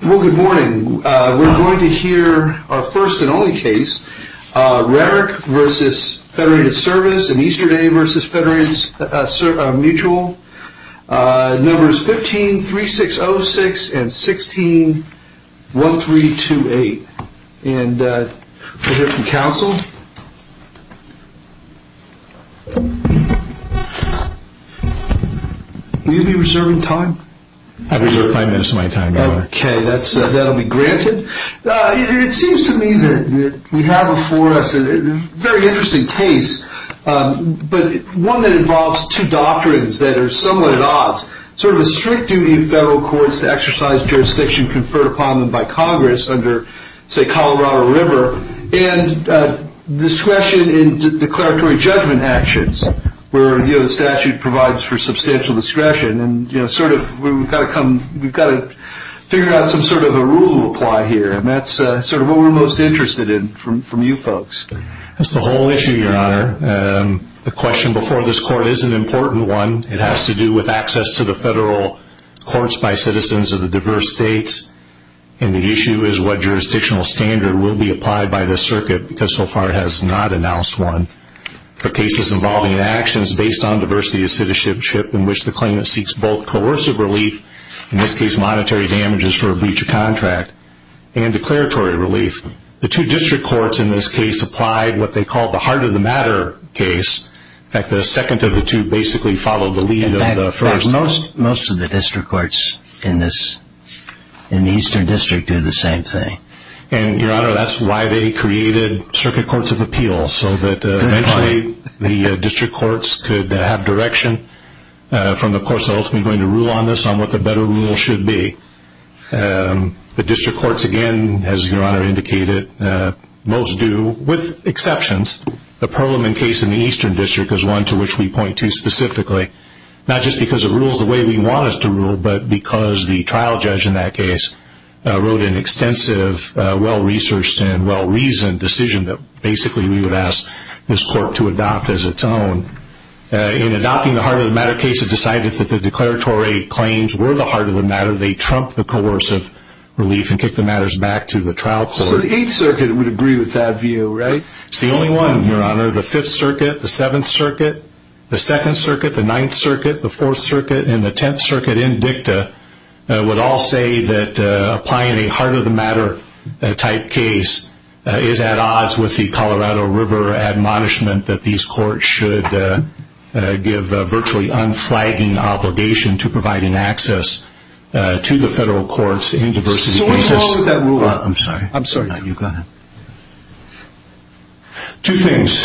Good morning, we're going to hear our first and only case, Rarick v. Federated Service and Easterday v. Federated Mutual, numbers 153606 and 161328. We'll hear from counsel. Will you be reserving time? I reserve five minutes of my time, Your Honor. Okay, that will be granted. It seems to me that we have before us a very interesting case, but one that involves two doctrines that are somewhat at odds. Sort of a strict duty of federal courts to exercise jurisdiction conferred upon them by Congress under, say, Colorado River, and discretion in declaratory judgment actions, where the statute provides for substantial discretion. We've got to figure out some sort of a rule to apply here, and that's sort of what we're most interested in from you folks. That's the whole issue, Your Honor. The question before this Court is an important one. It has to do with access to the federal courts by citizens of the diverse states, and the issue is what jurisdictional standard will be applied by this circuit, because so far it has not announced one, for cases involving actions based on diversity of citizenship in which the claimant seeks both coercive relief, in this case monetary damages for a breach of contract, and declaratory relief. The two district courts in this case applied what they called the heart of the matter case. In fact, the second of the two basically followed the lead of the first. Most of the district courts in the Eastern District do the same thing. And, Your Honor, that's why they created circuit courts of appeals, so that eventually the district courts could have direction from the courts ultimately going to rule on this on what the better rule should be. The district courts, again, as Your Honor indicated, most do, with exceptions. The Perlman case in the Eastern District is one to which we point to specifically, not just because it rules the way we want it to rule, but because the trial judge in that case wrote an extensive, well-researched, and well-reasoned decision that basically we would ask this court to adopt as its own. In adopting the heart of the matter case, it decided that the declaratory claims were the heart of the matter. They trumped the coercive relief and kicked the matters back to the trial court. So the Eighth Circuit would agree with that view, right? It's the only one, Your Honor. The Fifth Circuit, the Seventh Circuit, the Second Circuit, the Ninth Circuit, the Fourth Circuit, and the Tenth Circuit in dicta would all say that applying a heart of the matter type case is at odds with the Colorado River admonishment that these courts should give virtually unflagging obligation to providing access to the federal courts in diversity cases. Two things,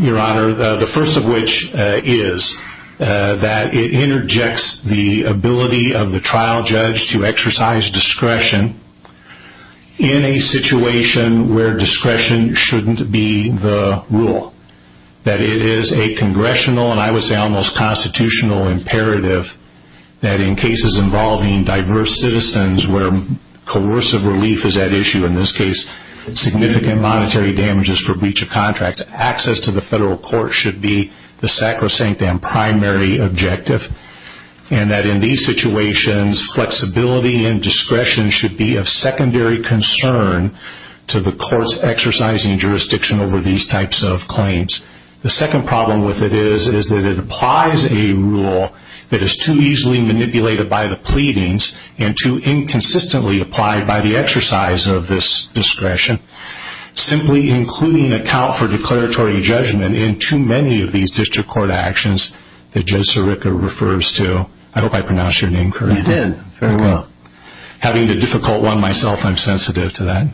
Your Honor. The first of which is that it interjects the ability of the trial judge to exercise discretion in a situation where discretion shouldn't be the rule. That it is a congressional, and I would say almost constitutional imperative that in cases involving diverse citizens where coercive relief is at issue, in this case, significant monetary damages for breach of contract, access to the federal court should be the sacrosanct and primary objective. And that in these situations, flexibility and discretion should be of secondary concern to the courts exercising jurisdiction over these types of claims. The second problem with it is that it applies a rule that is too easily manipulated by the pleadings and too inconsistently applied by the exercise of this discretion. Simply including account for declaratory judgment in too many of these district court actions that Judge Sirica refers to. I hope I pronounced your name correctly. You did. Very well. Having a difficult one myself, I'm sensitive to that.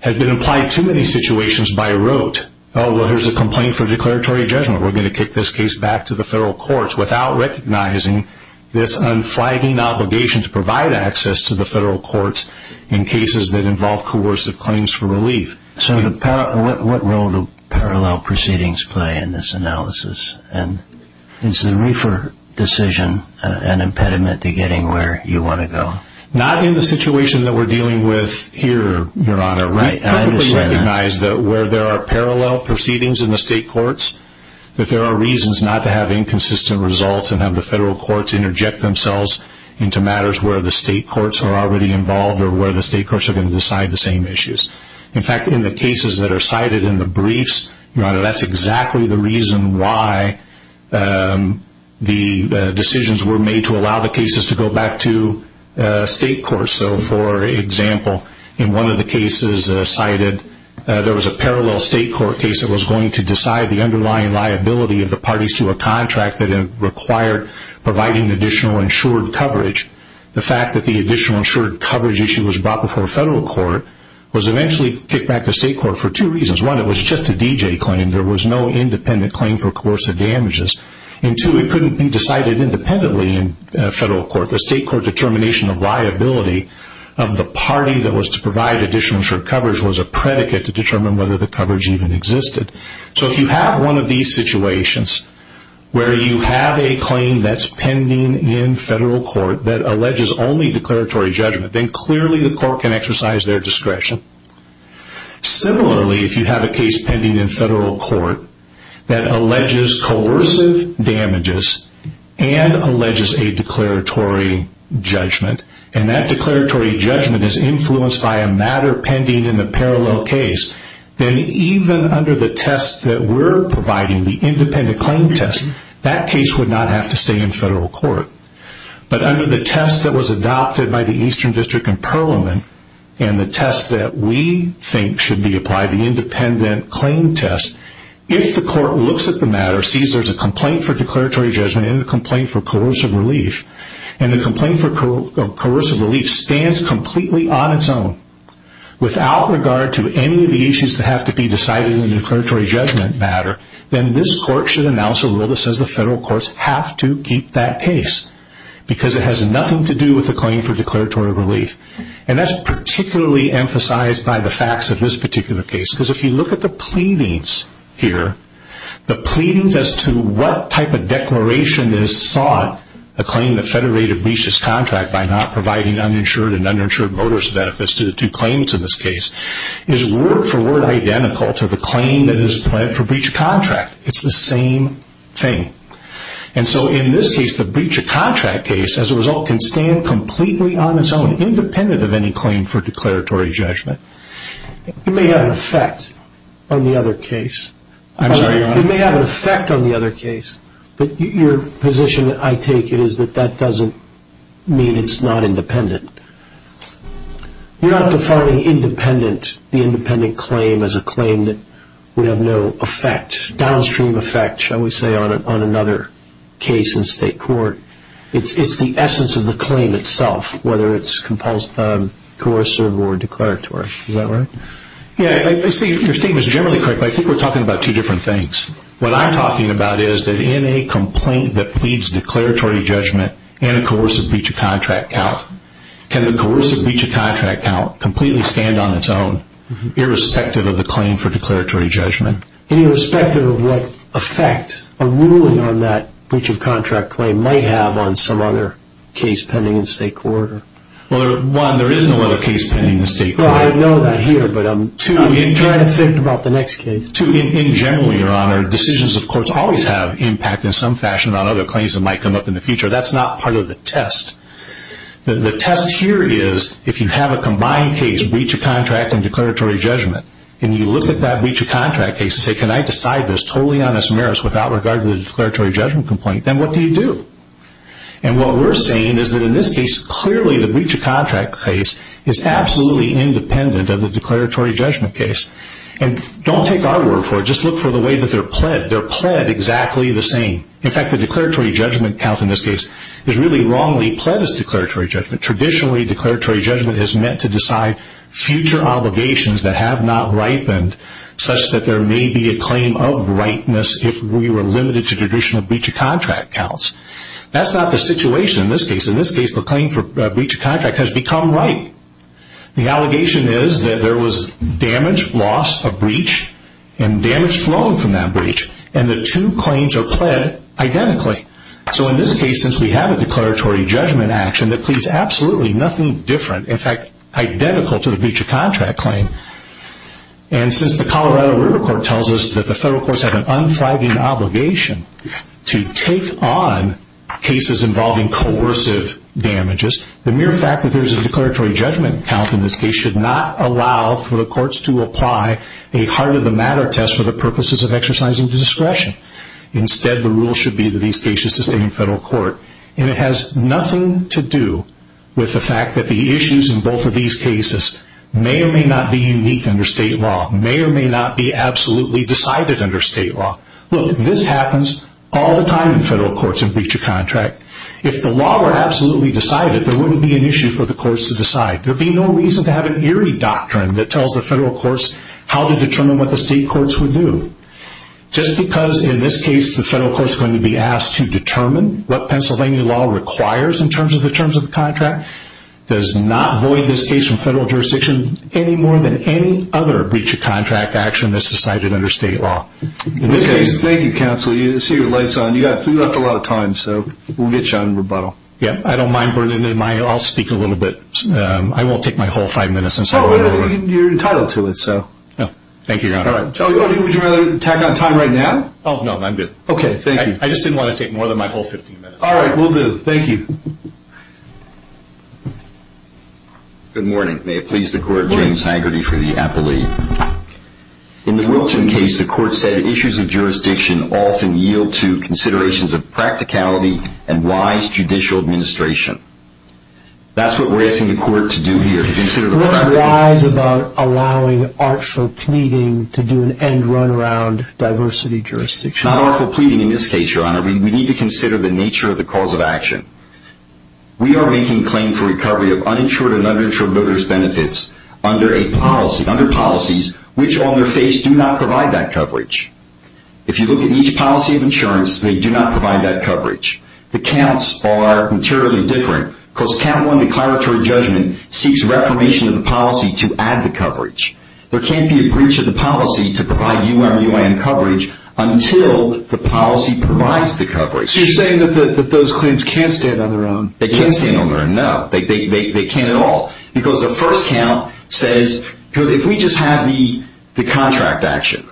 Had been applied to many situations by rote. Oh, well, here's a complaint for declaratory judgment. We're going to kick this case back to the federal courts without recognizing this unflagging obligation to provide access to the federal courts in cases that involve coercive claims for relief. So what role do parallel proceedings play in this analysis? And is the reefer decision an impediment to getting where you want to go? Not in the situation that we're dealing with here, Your Honor. I recognize that where there are parallel proceedings in the state courts, that there are reasons not to have inconsistent results and have the federal courts interject themselves into matters where the state courts are already involved or where the state courts are going to decide the same issues. In fact, in the cases that are cited in the briefs, Your Honor, that's exactly the reason why the decisions were made to allow the cases to go back to state courts. So, for example, in one of the cases cited, there was a parallel state court case that was going to decide the underlying liability of the parties to a contract that required providing additional insured coverage. The fact that the additional insured coverage issue was brought before federal court was eventually kicked back to state court for two reasons. One, it was just a D.J. claim. There was no independent claim for coercive damages. And two, it couldn't be decided independently in federal court. The state court determination of liability of the party that was to provide additional insured coverage was a predicate to determine whether the coverage even existed. So if you have one of these situations where you have a claim that's pending in federal court that alleges only declaratory judgment, then clearly the court can exercise their discretion. Similarly, if you have a case pending in federal court that alleges coercive damages and alleges a declaratory judgment, and that declaratory judgment is influenced by a matter pending in the parallel case, then even under the test that we're providing, the independent claim test, that case would not have to stay in federal court. But under the test that was adopted by the Eastern District in Perelman, and the test that we think should be applied, the independent claim test, if the court looks at the matter, sees there's a complaint for declaratory judgment and a complaint for coercive relief, and the complaint for coercive relief stands completely on its own without regard to any of the issues that have to be decided in the declaratory judgment matter, then this court should announce a rule that says the federal courts have to keep that case because it has nothing to do with the claim for declaratory relief. And that's particularly emphasized by the facts of this particular case because if you look at the pleadings here, the pleadings as to what type of declaration is sought, a claim that federated breaches contract by not providing uninsured and uninsured motorist benefits to claimants in this case, is word for word identical to the claim that is pled for breach of contract. It's the same thing. And so in this case, the breach of contract case, as a result, can stand completely on its own, independent of any claim for declaratory judgment. It may have an effect on the other case. I'm sorry, Your Honor. It may have an effect on the other case, but your position, I take it, is that that doesn't mean it's not independent. You're not defining independent, the independent claim, as a claim that would have no effect, downstream effect, shall we say, on another case in state court. It's the essence of the claim itself, whether it's coercive or declaratory. Is that right? Yeah. I see your statement is generally correct, but I think we're talking about two different things. What I'm talking about is that in a complaint that pleads declaratory judgment and a coercive breach of contract count, can the coercive breach of contract count completely stand on its own, irrespective of the claim for declaratory judgment? And irrespective of what effect a ruling on that breach of contract claim might have on some other case pending in state court. Well, one, there is no other case pending in state court. I know that here, but I'm trying to think about the next case. Two, in general, Your Honor, decisions of courts always have impact in some fashion on other claims that might come up in the future. That's not part of the test. The test here is if you have a combined case, breach of contract and declaratory judgment, and you look at that breach of contract case and say, can I decide this totally on this merits without regard to the declaratory judgment complaint, then what do you do? And what we're saying is that in this case, clearly the breach of contract case is absolutely independent of the declaratory judgment case. And don't take our word for it. Just look for the way that they're pled. They're pled exactly the same. In fact, the declaratory judgment count in this case is really wrongly pled as declaratory judgment. Traditionally, declaratory judgment is meant to decide future obligations that have not ripened such that there may be a claim of ripeness if we were limited to traditional breach of contract counts. That's not the situation in this case. In this case, the claim for breach of contract has become ripe. The allegation is that there was damage, loss, a breach, and damage flown from that breach, and the two claims are pled identically. So in this case, since we have a declaratory judgment action that pleads absolutely nothing different, in fact, identical to the breach of contract claim, and since the Colorado River Court tells us that the federal courts have an unflagging obligation to take on cases involving coercive damages, the mere fact that there's a declaratory judgment count in this case should not allow for the courts to apply a heart-of-the-matter test for the purposes of exercising discretion. Instead, the rule should be that these cases sustain federal court. And it has nothing to do with the fact that the issues in both of these cases may or may not be unique under state law, may or may not be absolutely decided under state law. Look, this happens all the time in federal courts in breach of contract. If the law were absolutely decided, there wouldn't be an issue for the courts to decide. There would be no reason to have an eerie doctrine that tells the federal courts how to determine what the state courts would do. Just because, in this case, the federal courts are going to be asked to determine what Pennsylvania law requires in terms of the terms of the contract, does not void this case from federal jurisdiction any more than any other breach of contract action that's decided under state law. In this case, thank you, counsel. I see your light's on. You left a lot of time, so we'll get you on rebuttal. Yeah, I don't mind burning it. I'll speak a little bit. I won't take my whole five minutes. You're entitled to it. Thank you, Your Honor. Would you rather attack on time right now? Oh, no, I'm good. Okay, thank you. I just didn't want to take more than my whole 15 minutes. All right, we'll do. Thank you. Good morning. May it please the Court, James Hagerty for the appellee. In the Wilton case, the Court said, issues of jurisdiction often yield to considerations of practicality and wise judicial administration. That's what we're asking the Court to do here, to consider the practicality. Let's rise about allowing artful pleading to do an end run around diversity jurisdiction. It's not artful pleading in this case, Your Honor. We need to consider the nature of the cause of action. We are making claim for recovery of uninsured and uninsured voters' benefits under policies which, on their face, do not provide that coverage. If you look at each policy of insurance, they do not provide that coverage. The counts are materially different, because count one declaratory judgment seeks reformation of the policy to add the coverage. There can't be a breach of the policy to provide UMUN coverage until the policy provides the coverage. So you're saying that those claims can't stand on their own? They can't stand on their own, no. They can't at all. Because the first count says, if we just have the contract action,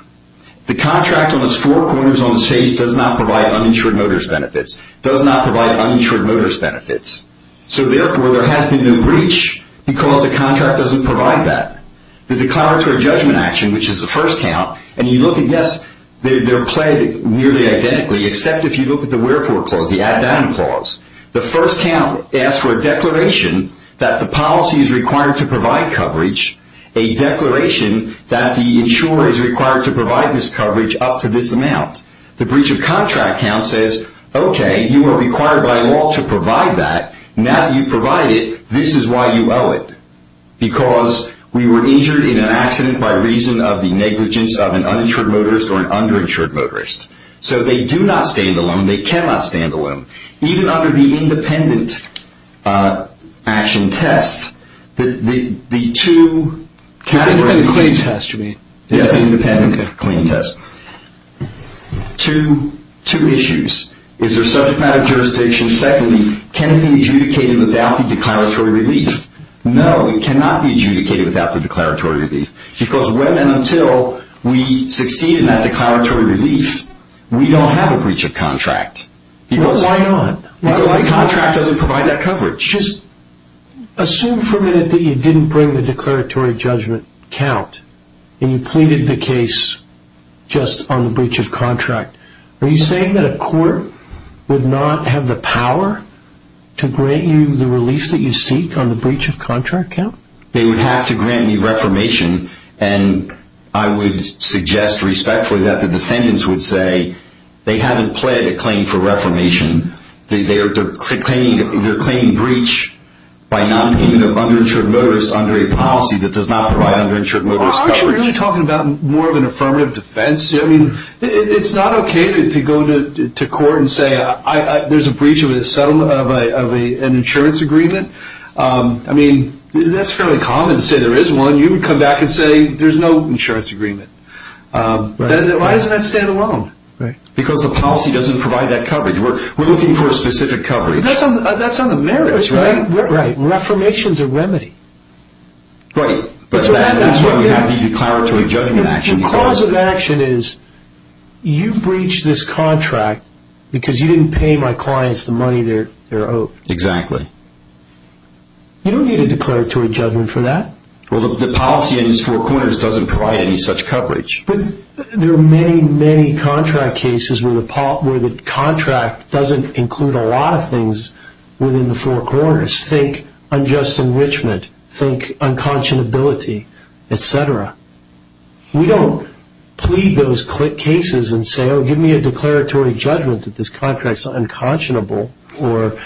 the contract on its four corners on its face does not provide uninsured voters' benefits, does not provide uninsured voters' benefits. So therefore, there has to be no breach, because the contract doesn't provide that. The declaratory judgment action, which is the first count, and you look at, yes, they're played nearly identically, except if you look at the wherefore clause, the add-down clause. The first count asks for a declaration that the policy is required to provide coverage, a declaration that the insurer is required to provide this coverage up to this amount. The breach of contract count says, okay, you were required by law to provide that. Now that you've provided it, this is why you owe it, because we were injured in an accident by reason of the negligence of an uninsured motorist or an underinsured motorist. So they do not stand alone. They cannot stand alone. Even under the independent action test, the two – Independent claim test, you mean? Yes, independent claim test. Two issues. Is there subject matter jurisdiction? Secondly, can it be adjudicated without the declaratory relief? No, it cannot be adjudicated without the declaratory relief, because until we succeed in that declaratory relief, we don't have a breach of contract. Why not? Because the contract doesn't provide that coverage. Just assume for a minute that you didn't bring the declaratory judgment count and you pleaded the case just on the breach of contract. Are you saying that a court would not have the power to grant you the relief that you seek on the breach of contract count? They would have to grant me reformation, and I would suggest respectfully that the defendants would say they haven't pled a claim for reformation. They're claiming breach by nonpayment of underinsured motorist under a policy that does not provide underinsured motorist coverage. Aren't you really talking about more of an affirmative defense? I mean, it's not okay to go to court and say there's a breach of an insurance agreement. I mean, that's fairly common to say there is one. You would come back and say there's no insurance agreement. Why doesn't that stand alone? Because the policy doesn't provide that coverage. We're looking for a specific coverage. That's on the merits, right? Reformation is a remedy. Right. That's why we have the declaratory judgment action. The cause of action is you breached this contract because you didn't pay my clients the money they're owed. Exactly. You don't need a declaratory judgment for that. Well, the policy in these four corners doesn't provide any such coverage. But there are many, many contract cases where the contract doesn't include a lot of things within the four corners. Think unjust enrichment. Think unconscionability, et cetera. We don't plead those cases and say, oh, give me a declaratory judgment that this contract is unconscionable. Then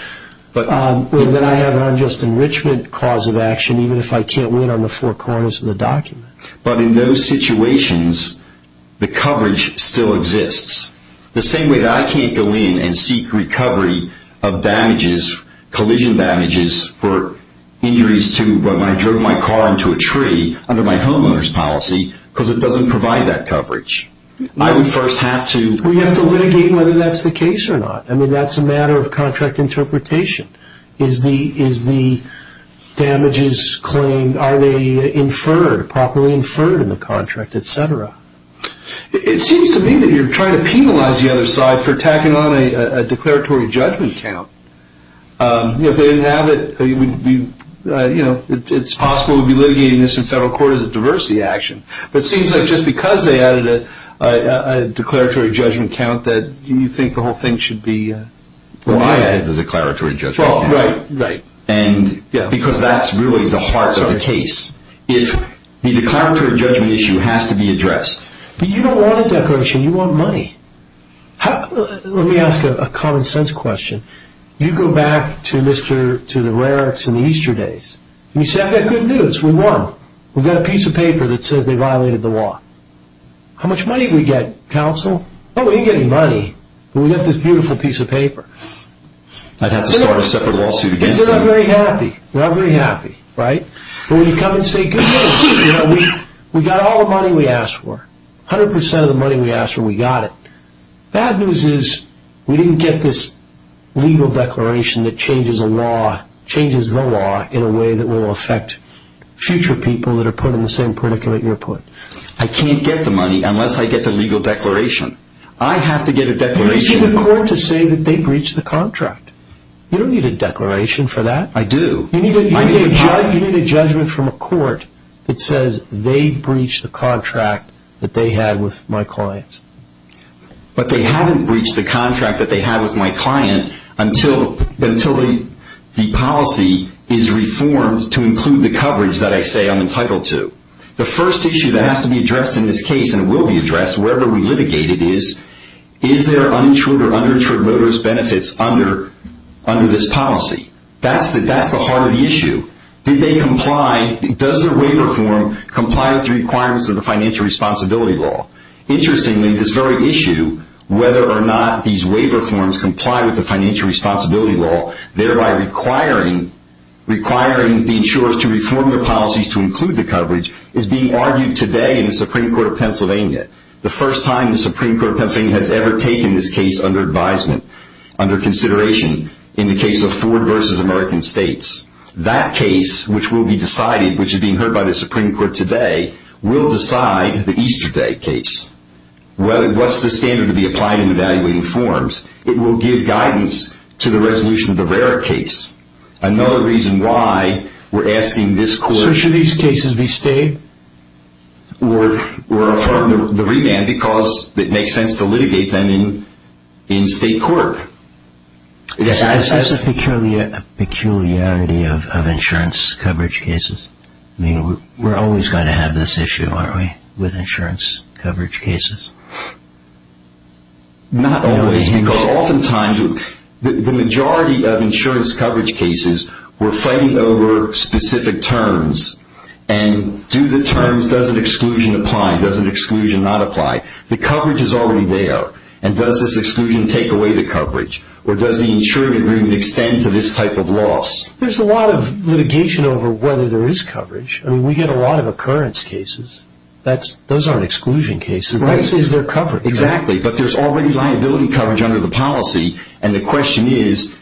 I have an unjust enrichment cause of action even if I can't win on the four corners of the document. But in those situations, the coverage still exists. The same way that I can't go in and seek recovery of damages, collision damages for injuries to when I drove my car into a tree under my homeowner's policy because it doesn't provide that coverage. I would first have to... We have to litigate whether that's the case or not. I mean, that's a matter of contract interpretation. Is the damages claimed? Are they inferred, properly inferred in the contract, et cetera? It seems to me that you're trying to penalize the other side for tacking on a declaratory judgment count. If they didn't have it, it's possible we'd be litigating this in federal court as a diversity action. But it seems like just because they added a declaratory judgment count that you think the whole thing should be... Well, I added the declaratory judgment count. Right, right. Because that's really the heart of the case. If the declaratory judgment issue has to be addressed... But you don't want a declaration. You want money. Let me ask a common sense question. You go back to the Raricks and the Easterdays. You say, I've got good news. We won. We've got a piece of paper that says they violated the law. How much money did we get, counsel? Oh, we didn't get any money, but we got this beautiful piece of paper. I'd have to start a separate lawsuit against them. We're not very happy. We're not very happy, right? But when you come and say, good news. We got all the money we asked for. 100% of the money we asked for, we got it. Bad news is we didn't get this legal declaration that changes the law in a way that will affect future people that are put in the same predicament you're put. I can't get the money unless I get the legal declaration. I have to get a declaration. You need a court to say that they breached the contract. You don't need a declaration for that. I do. You need a judgment from a court that says they breached the contract that they had with my clients. But they haven't breached the contract that they had with my client until the policy is reformed to include the coverage that I say I'm entitled to. The first issue that has to be addressed in this case and will be addressed wherever we litigate it is, is there uninsured or underinsured motorist benefits under this policy? That's the heart of the issue. Does their waiver form comply with the requirements of the financial responsibility law? Interestingly, this very issue, whether or not these waiver forms comply with the financial responsibility law, thereby requiring the insurers to reform their policies to include the coverage, is being argued today in the Supreme Court of Pennsylvania. The first time the Supreme Court of Pennsylvania has ever taken this case under advisement, under consideration, in the case of Ford v. American States. That case, which will be decided, which is being heard by the Supreme Court today, will decide the Easter Day case. What's the standard to be applied in evaluating forms? It will give guidance to the resolution of the Vera case. Another reason why we're asking this court... So should these cases be stayed? Or affirm the remand because it makes sense to litigate them in state court. Is this a peculiarity of insurance coverage cases? I mean, we're always going to have this issue, aren't we, with insurance coverage cases? Not always, because oftentimes the majority of insurance coverage cases were fighting over specific terms. And do the terms, does an exclusion apply, does an exclusion not apply? The coverage is already there. And does this exclusion take away the coverage? Or does the insurance agreement extend to this type of loss? There's a lot of litigation over whether there is coverage. I mean, we get a lot of occurrence cases. Those aren't exclusion cases. That is their coverage. Exactly. But there's already liability coverage under the policy. And the question is,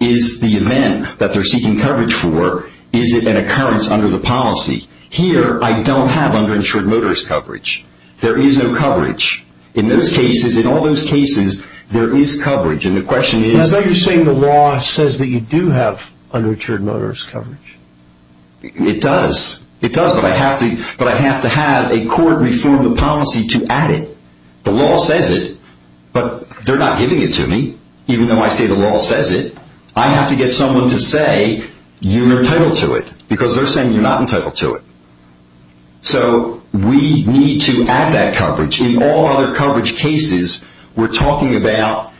is the event that they're seeking coverage for, is it an occurrence under the policy? Here, I don't have underinsured motorist coverage. There is no coverage. In those cases, in all those cases, there is coverage. And the question is do you have underinsured motorist coverage? It does. It does, but I have to have a court reform the policy to add it. The law says it, but they're not giving it to me, even though I say the law says it. I have to get someone to say, you're entitled to it, because they're saying you're not entitled to it. So we need to add that coverage. In all other coverage cases, we're talking about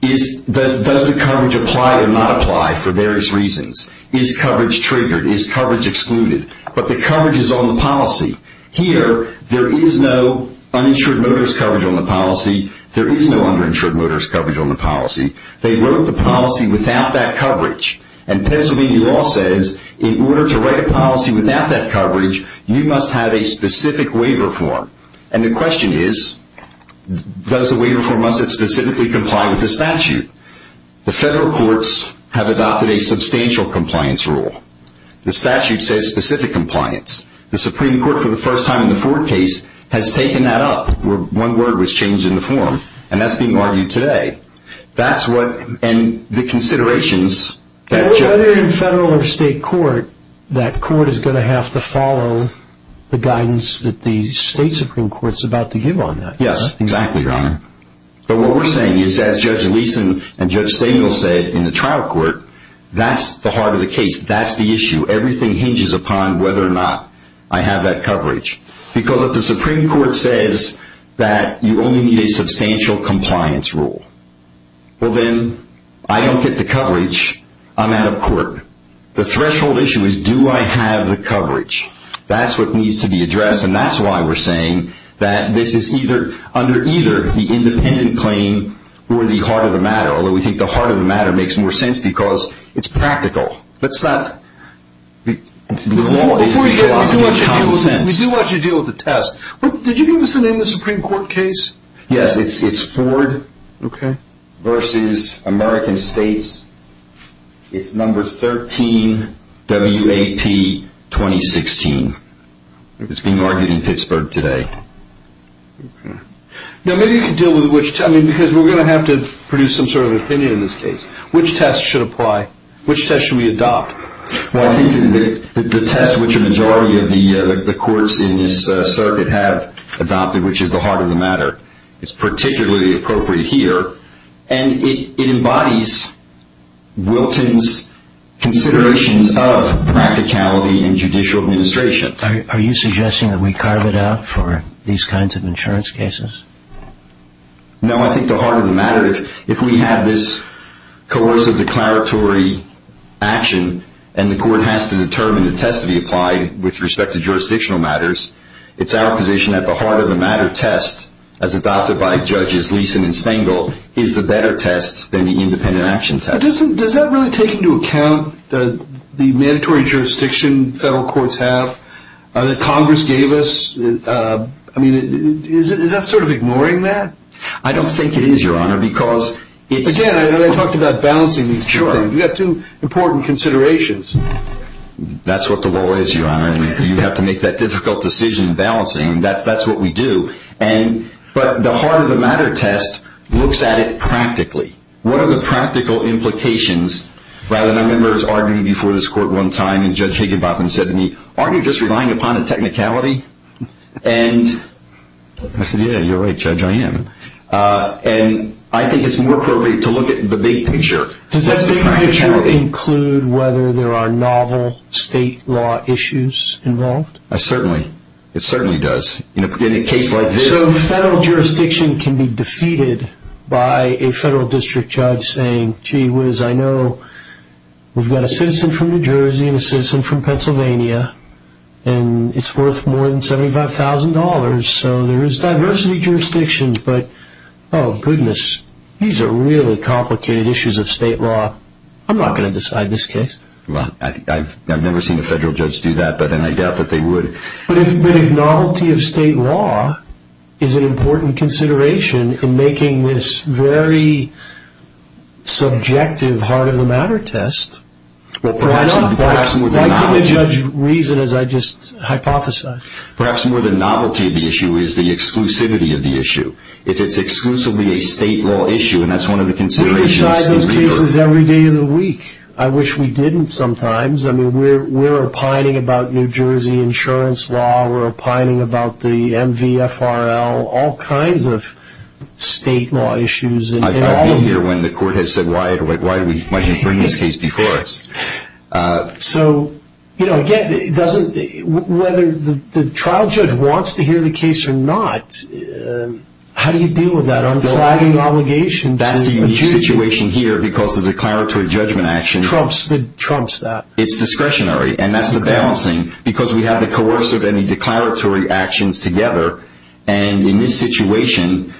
does the coverage apply or not apply for various reasons. Is coverage triggered? Is coverage excluded? But the coverage is on the policy. Here, there is no uninsured motorist coverage on the policy. There is no underinsured motorist coverage on the policy. They wrote the policy without that coverage. And Pennsylvania law says in order to write a policy without that coverage, you must have a specific waiver form. And the question is does the waiver form must it specifically comply with the statute? The federal courts have adopted a substantial compliance rule. The statute says specific compliance. The Supreme Court, for the first time in the Ford case, has taken that up. One word was changed in the form, and that's being argued today. And the considerations that judge... Whether in federal or state court, that court is going to have to follow the guidance that the state Supreme Court is about to give on that. Yes, exactly, Your Honor. But what we're saying is, as Judge Leeson and Judge Stengel said in the trial court, that's the heart of the case. That's the issue. Everything hinges upon whether or not I have that coverage. Because if the Supreme Court says that you only need a substantial compliance rule, well, then I don't get the coverage. I'm out of court. The threshold issue is do I have the coverage. That's what needs to be addressed. And that's why we're saying that this is either under either the independent claim or the heart of the matter, although we think the heart of the matter makes more sense because it's practical. Before we go, we do want you to deal with the test. Did you give us the name of the Supreme Court case? Yes, it's Ford v. American States. It's number 13, WAP 2016. It's being argued in Pittsburgh today. Okay. Now, maybe you can deal with which... Because we're going to have to produce some sort of opinion in this case. Which test should apply? Which test should we adopt? Well, I think that the test which a majority of the courts in this circuit have adopted, which is the heart of the matter, is particularly appropriate here. And it embodies Wilton's considerations of practicality in judicial administration. Are you suggesting that we carve it out for these kinds of insurance cases? No, I think the heart of the matter, if we have this coercive declaratory action and the court has to determine the test to be applied with respect to jurisdictional matters, it's our position that the heart of the matter test, as adopted by Judges Leeson and Stengel, is the better test than the independent action test. Does that really take into account the mandatory jurisdiction federal courts have that Congress gave us? I mean, is that sort of ignoring that? I don't think it is, Your Honor, because it's... Again, I talked about balancing these two things. You've got two important considerations. That's what the law is, Your Honor. You have to make that difficult decision in balancing, and that's what we do. But the heart of the matter test looks at it practically. What are the practical implications? I remember arguing before this court one time, and Judge Higinbotham said to me, aren't you just relying upon a technicality? And I said, yeah, you're right, Judge, I am. And I think it's more appropriate to look at the big picture. Does the big picture include whether there are novel state law issues involved? Certainly. It certainly does. In a case like this... So the federal jurisdiction can be defeated by a federal district judge saying, gee whiz, I know we've got a citizen from New Jersey and a citizen from Pennsylvania, and it's worth more than $75,000, so there is diversity jurisdictions. But, oh, goodness, these are really complicated issues of state law. I'm not going to decide this case. Well, I've never seen a federal judge do that, and I doubt that they would. But if novelty of state law is an important consideration in making this very subjective heart of the matter test, why give a judge reason as I just hypothesized? Perhaps more than novelty of the issue is the exclusivity of the issue. If it's exclusively a state law issue, and that's one of the considerations... We decide those cases every day of the week. I wish we didn't sometimes. I mean, we're opining about New Jersey insurance law. We're opining about the MVFRL, all kinds of state law issues. I've been here when the court has said, why didn't you bring this case before us? So, you know, again, whether the trial judge wants to hear the case or not, how do you deal with that unflagging obligation to the judge? That's the unique situation here because of the declaratory judgment action. It trumps that. It's discretionary, and that's the balancing. Because we have the coercive and the declaratory actions together, and in this situation,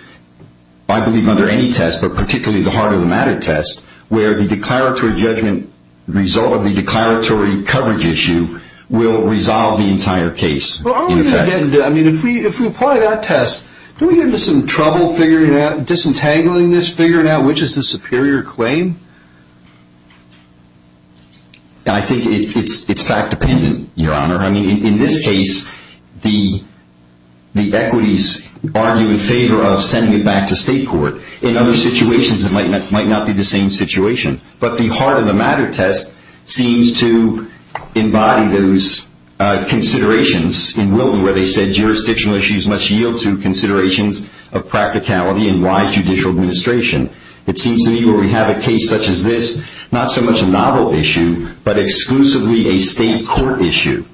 I believe under any test, but particularly the heart of the matter test, where the declaratory judgment result of the declaratory coverage issue will resolve the entire case. If we apply that test, don't we get into some trouble figuring out, disentangling this, figuring out which is the superior claim? I think it's fact-dependent, Your Honor. I mean, in this case, the equities argue in favor of sending it back to state court. In other situations, it might not be the same situation. But the heart of the matter test seems to embody those considerations in Wilton, where they said jurisdictional issues must yield to considerations of practicality and wise judicial administration. It seems to me where we have a case such as this, not so much a novel issue, but exclusively a state court issue,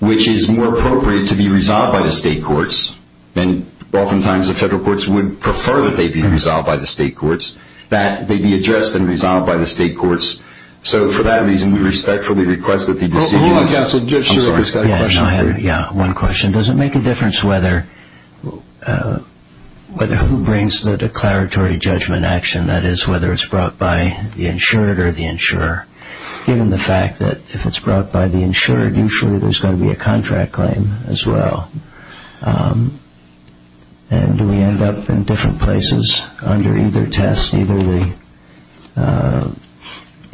which is more appropriate to be resolved by the state courts. And oftentimes the federal courts would prefer that they be resolved by the state courts, that they be addressed and resolved by the state courts. So for that reason, we respectfully request that the decision be made. I have one question. Does it make a difference whether who brings the declaratory judgment action, that is whether it's brought by the insured or the insurer? Given the fact that if it's brought by the insured, usually there's going to be a contract claim as well. And do we end up in different places under either test, either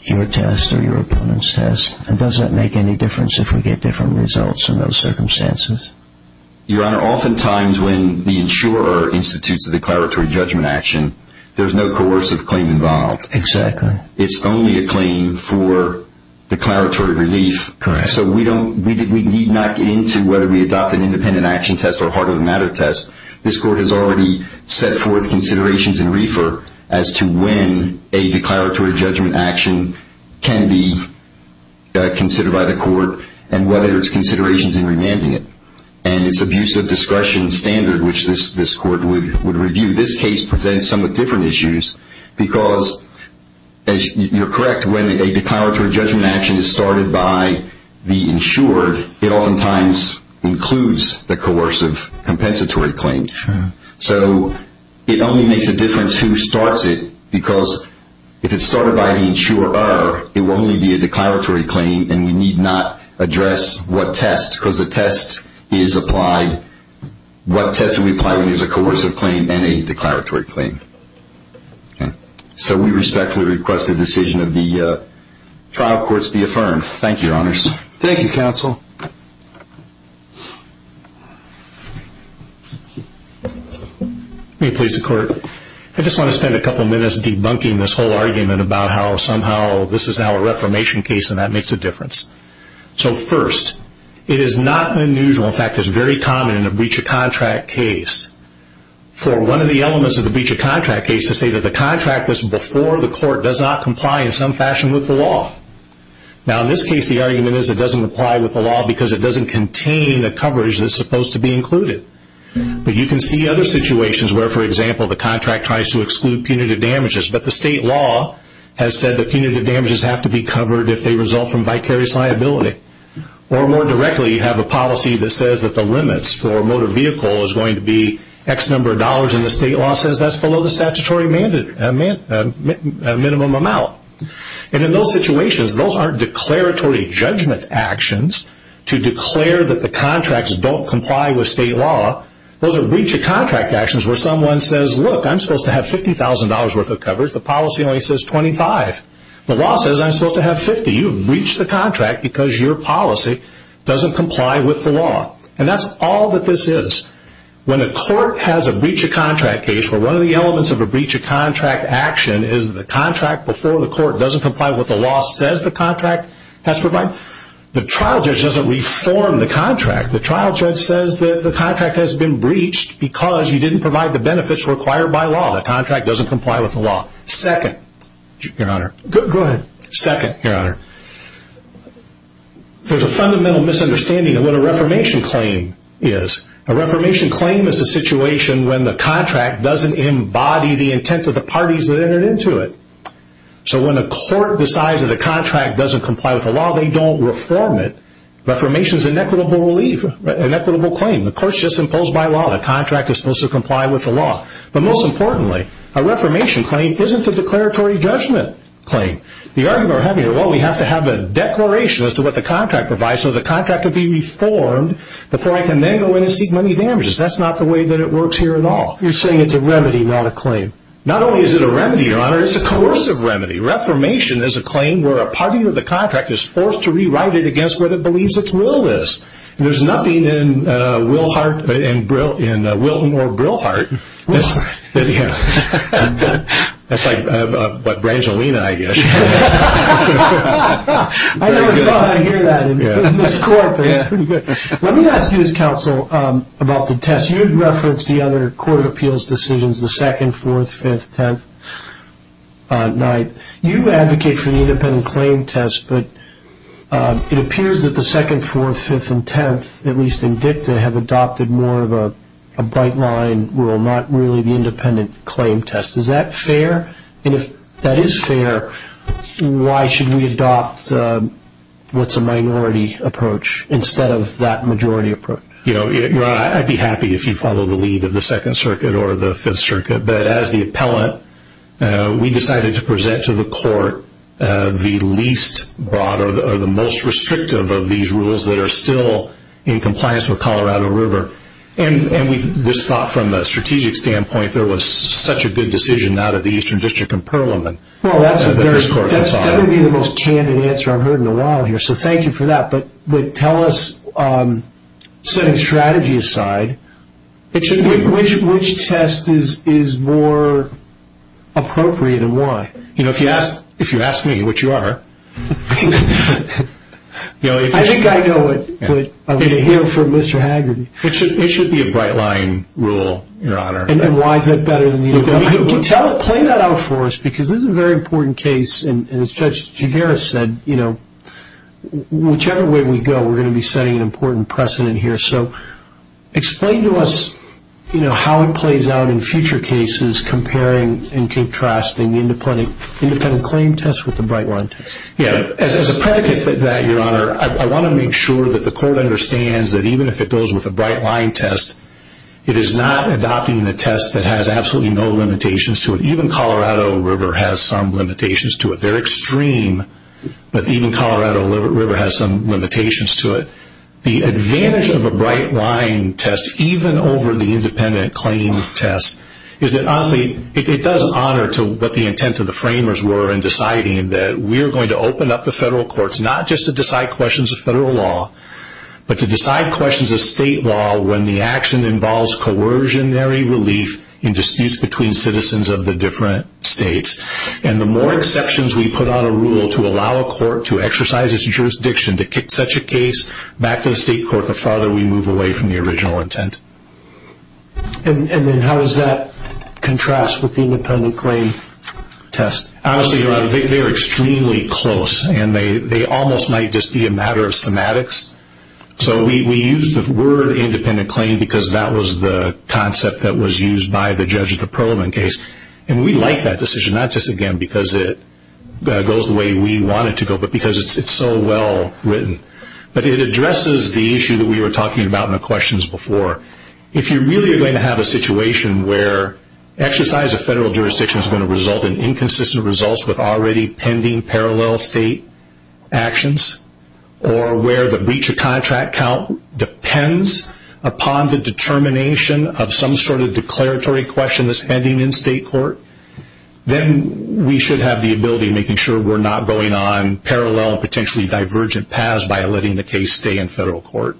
your test or your opponent's test? And does that make any difference if we get different results in those circumstances? Your Honor, oftentimes when the insurer institutes the declaratory judgment action, there's no coercive claim involved. Exactly. It's only a claim for declaratory relief. Correct. So we need not get into whether we adopt an independent action test or a heart of the matter test. This court has already set forth considerations in RFRA as to when a declaratory judgment action can be considered by the court and whether it's considerations in remanding it. And it's abuse of discretion standard, which this court would review. This case presents somewhat different issues because, as you're correct, when a declaratory judgment action is started by the insured, it oftentimes includes the coercive compensatory claim. Sure. So it only makes a difference who starts it because if it's started by the insurer, it will only be a declaratory claim and we need not address what test because the test is applied. What test do we apply when there's a coercive claim and a declaratory claim? Okay. So we respectfully request the decision of the trial courts be affirmed. Thank you, Your Honors. Thank you, Counsel. May it please the Court. I just want to spend a couple of minutes debunking this whole argument about how somehow this is now a reformation case and that makes a difference. So first, it is not unusual, in fact, it's very common in a breach of contract case for one of the elements of the breach of contract case to say that the contract that's before the court does not comply in some fashion with the law. Now, in this case, the argument is it doesn't comply with the law because it doesn't contain the coverage that's supposed to be included. But you can see other situations where, for example, the contract tries to exclude punitive damages, but the state law has said that punitive damages have to be covered if they result from vicarious liability. Or more directly, you have a policy that says that the limits for a motor vehicle is going to be X number of dollars and the state law says that's below the statutory minimum amount. And in those situations, those aren't declaratory judgment actions to declare that the contracts don't comply with state law. Those are breach of contract actions where someone says, look, I'm supposed to have $50,000 worth of coverage. The policy only says 25. The law says I'm supposed to have 50. You've breached the contract because your policy doesn't comply with the law. And that's all that this is. When a court has a breach of contract case where one of the elements of a breach of contract action is the contract before the court doesn't comply with what the law says the contract has provided, the trial judge doesn't reform the contract. The trial judge says that the contract has been breached because you didn't provide the benefits required by law. The contract doesn't comply with the law. Second, Your Honor. Go ahead. Second, Your Honor. There's a fundamental misunderstanding of what a reformation claim is. A reformation claim is a situation when the contract doesn't embody the intent of the parties that entered into it. So when a court decides that a contract doesn't comply with the law, they don't reform it. Reformation is an equitable claim. The court's just imposed by law. The contract is supposed to comply with the law. But most importantly, a reformation claim isn't a declaratory judgment claim. The argument I'm having is, well, we have to have a declaration as to what the contract provides so the contract can be reformed before I can then go in and seek money damages. That's not the way that it works here at all. You're saying it's a remedy, not a claim. Not only is it a remedy, Your Honor, it's a coercive remedy. Reformation is a claim where a party to the contract is forced to rewrite it against what it believes its will is. There's nothing in Wilton or Brilhart. That's like Brangelina, I guess. I never thought I'd hear that in this court, but it's pretty good. Let me ask you as counsel about the test. You had referenced the other court of appeals decisions, the 2nd, 4th, 5th, 10th night. You advocate for the independent claim test, but it appears that the 2nd, 4th, 5th, and 10th, at least in dicta, have adopted more of a bright line rule, not really the independent claim test. Is that fair? And if that is fair, why should we adopt what's a minority approach instead of that majority approach? Your Honor, I'd be happy if you follow the lead of the 2nd Circuit or the 5th Circuit, but as the appellant, we decided to present to the court the least broad or the most restrictive of these rules that are still in compliance with Colorado River. And we just thought from a strategic standpoint there was such a good decision out of the Eastern District and Perlman. That would be the most candid answer I've heard in a while here, so thank you for that. But tell us, setting strategy aside, which test is more appropriate and why? You know, if you ask me, which you are, I think I know it, but I'm going to hear it from Mr. Hagerty. It should be a bright line rule, Your Honor. And why is that better than the independent one? Play that out for us, because this is a very important case, and as Judge Gigeras said, whichever way we go, we're going to be setting an important precedent here. So explain to us how it plays out in future cases, comparing and contrasting the independent claim test with the bright line test. As a predicate for that, Your Honor, I want to make sure that the court understands that even if it goes with a bright line test, it is not adopting a test that has absolutely no limitations to it. Even Colorado River has some limitations to it. They're extreme, but even Colorado River has some limitations to it. The advantage of a bright line test, even over the independent claim test, is that honestly it does honor what the intent of the framers were in deciding that we're going to open up the federal courts, not just to decide questions of federal law, but to decide questions of state law when the action involves coercionary relief in disputes between citizens of the different states. And the more exceptions we put on a rule to allow a court to exercise its jurisdiction to kick such a case back to the state court, the farther we move away from the original intent. And then how does that contrast with the independent claim test? Honestly, Your Honor, they're extremely close, and they almost might just be a matter of semantics. So we use the word independent claim because that was the concept that was used by the judge at the Perlman case. And we like that decision, not just again because it goes the way we want it to go, but because it's so well written. But it addresses the issue that we were talking about in the questions before. If you're really going to have a situation where exercise of federal jurisdiction is going to result in inconsistent results with already pending parallel state actions, or where the breach of contract count depends upon the determination of some sort of declaratory question that's pending in state court, then we should have the ability of making sure we're not going on parallel and potentially divergent paths by letting the case stay in federal court.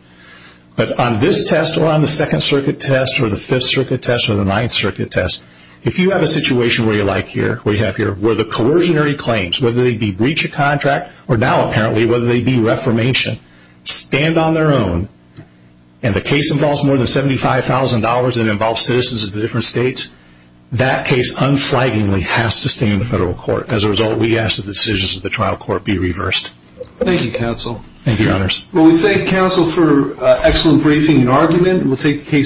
But on this test, or on the Second Circuit test, or the Fifth Circuit test, or the Ninth Circuit test, if you have a situation where you like here, where you have here, where the coercionary claims, whether they be breach of contract or now apparently whether they be reformation, stand on their own, and the case involves more than $75,000 and involves citizens of different states, that case unflaggingly has to stay in the federal court. As a result, we ask that the decisions of the trial court be reversed. Thank you, counsel. Thank you, Your Honors. Well, we thank counsel for excellent briefing and argument, and we'll take the case.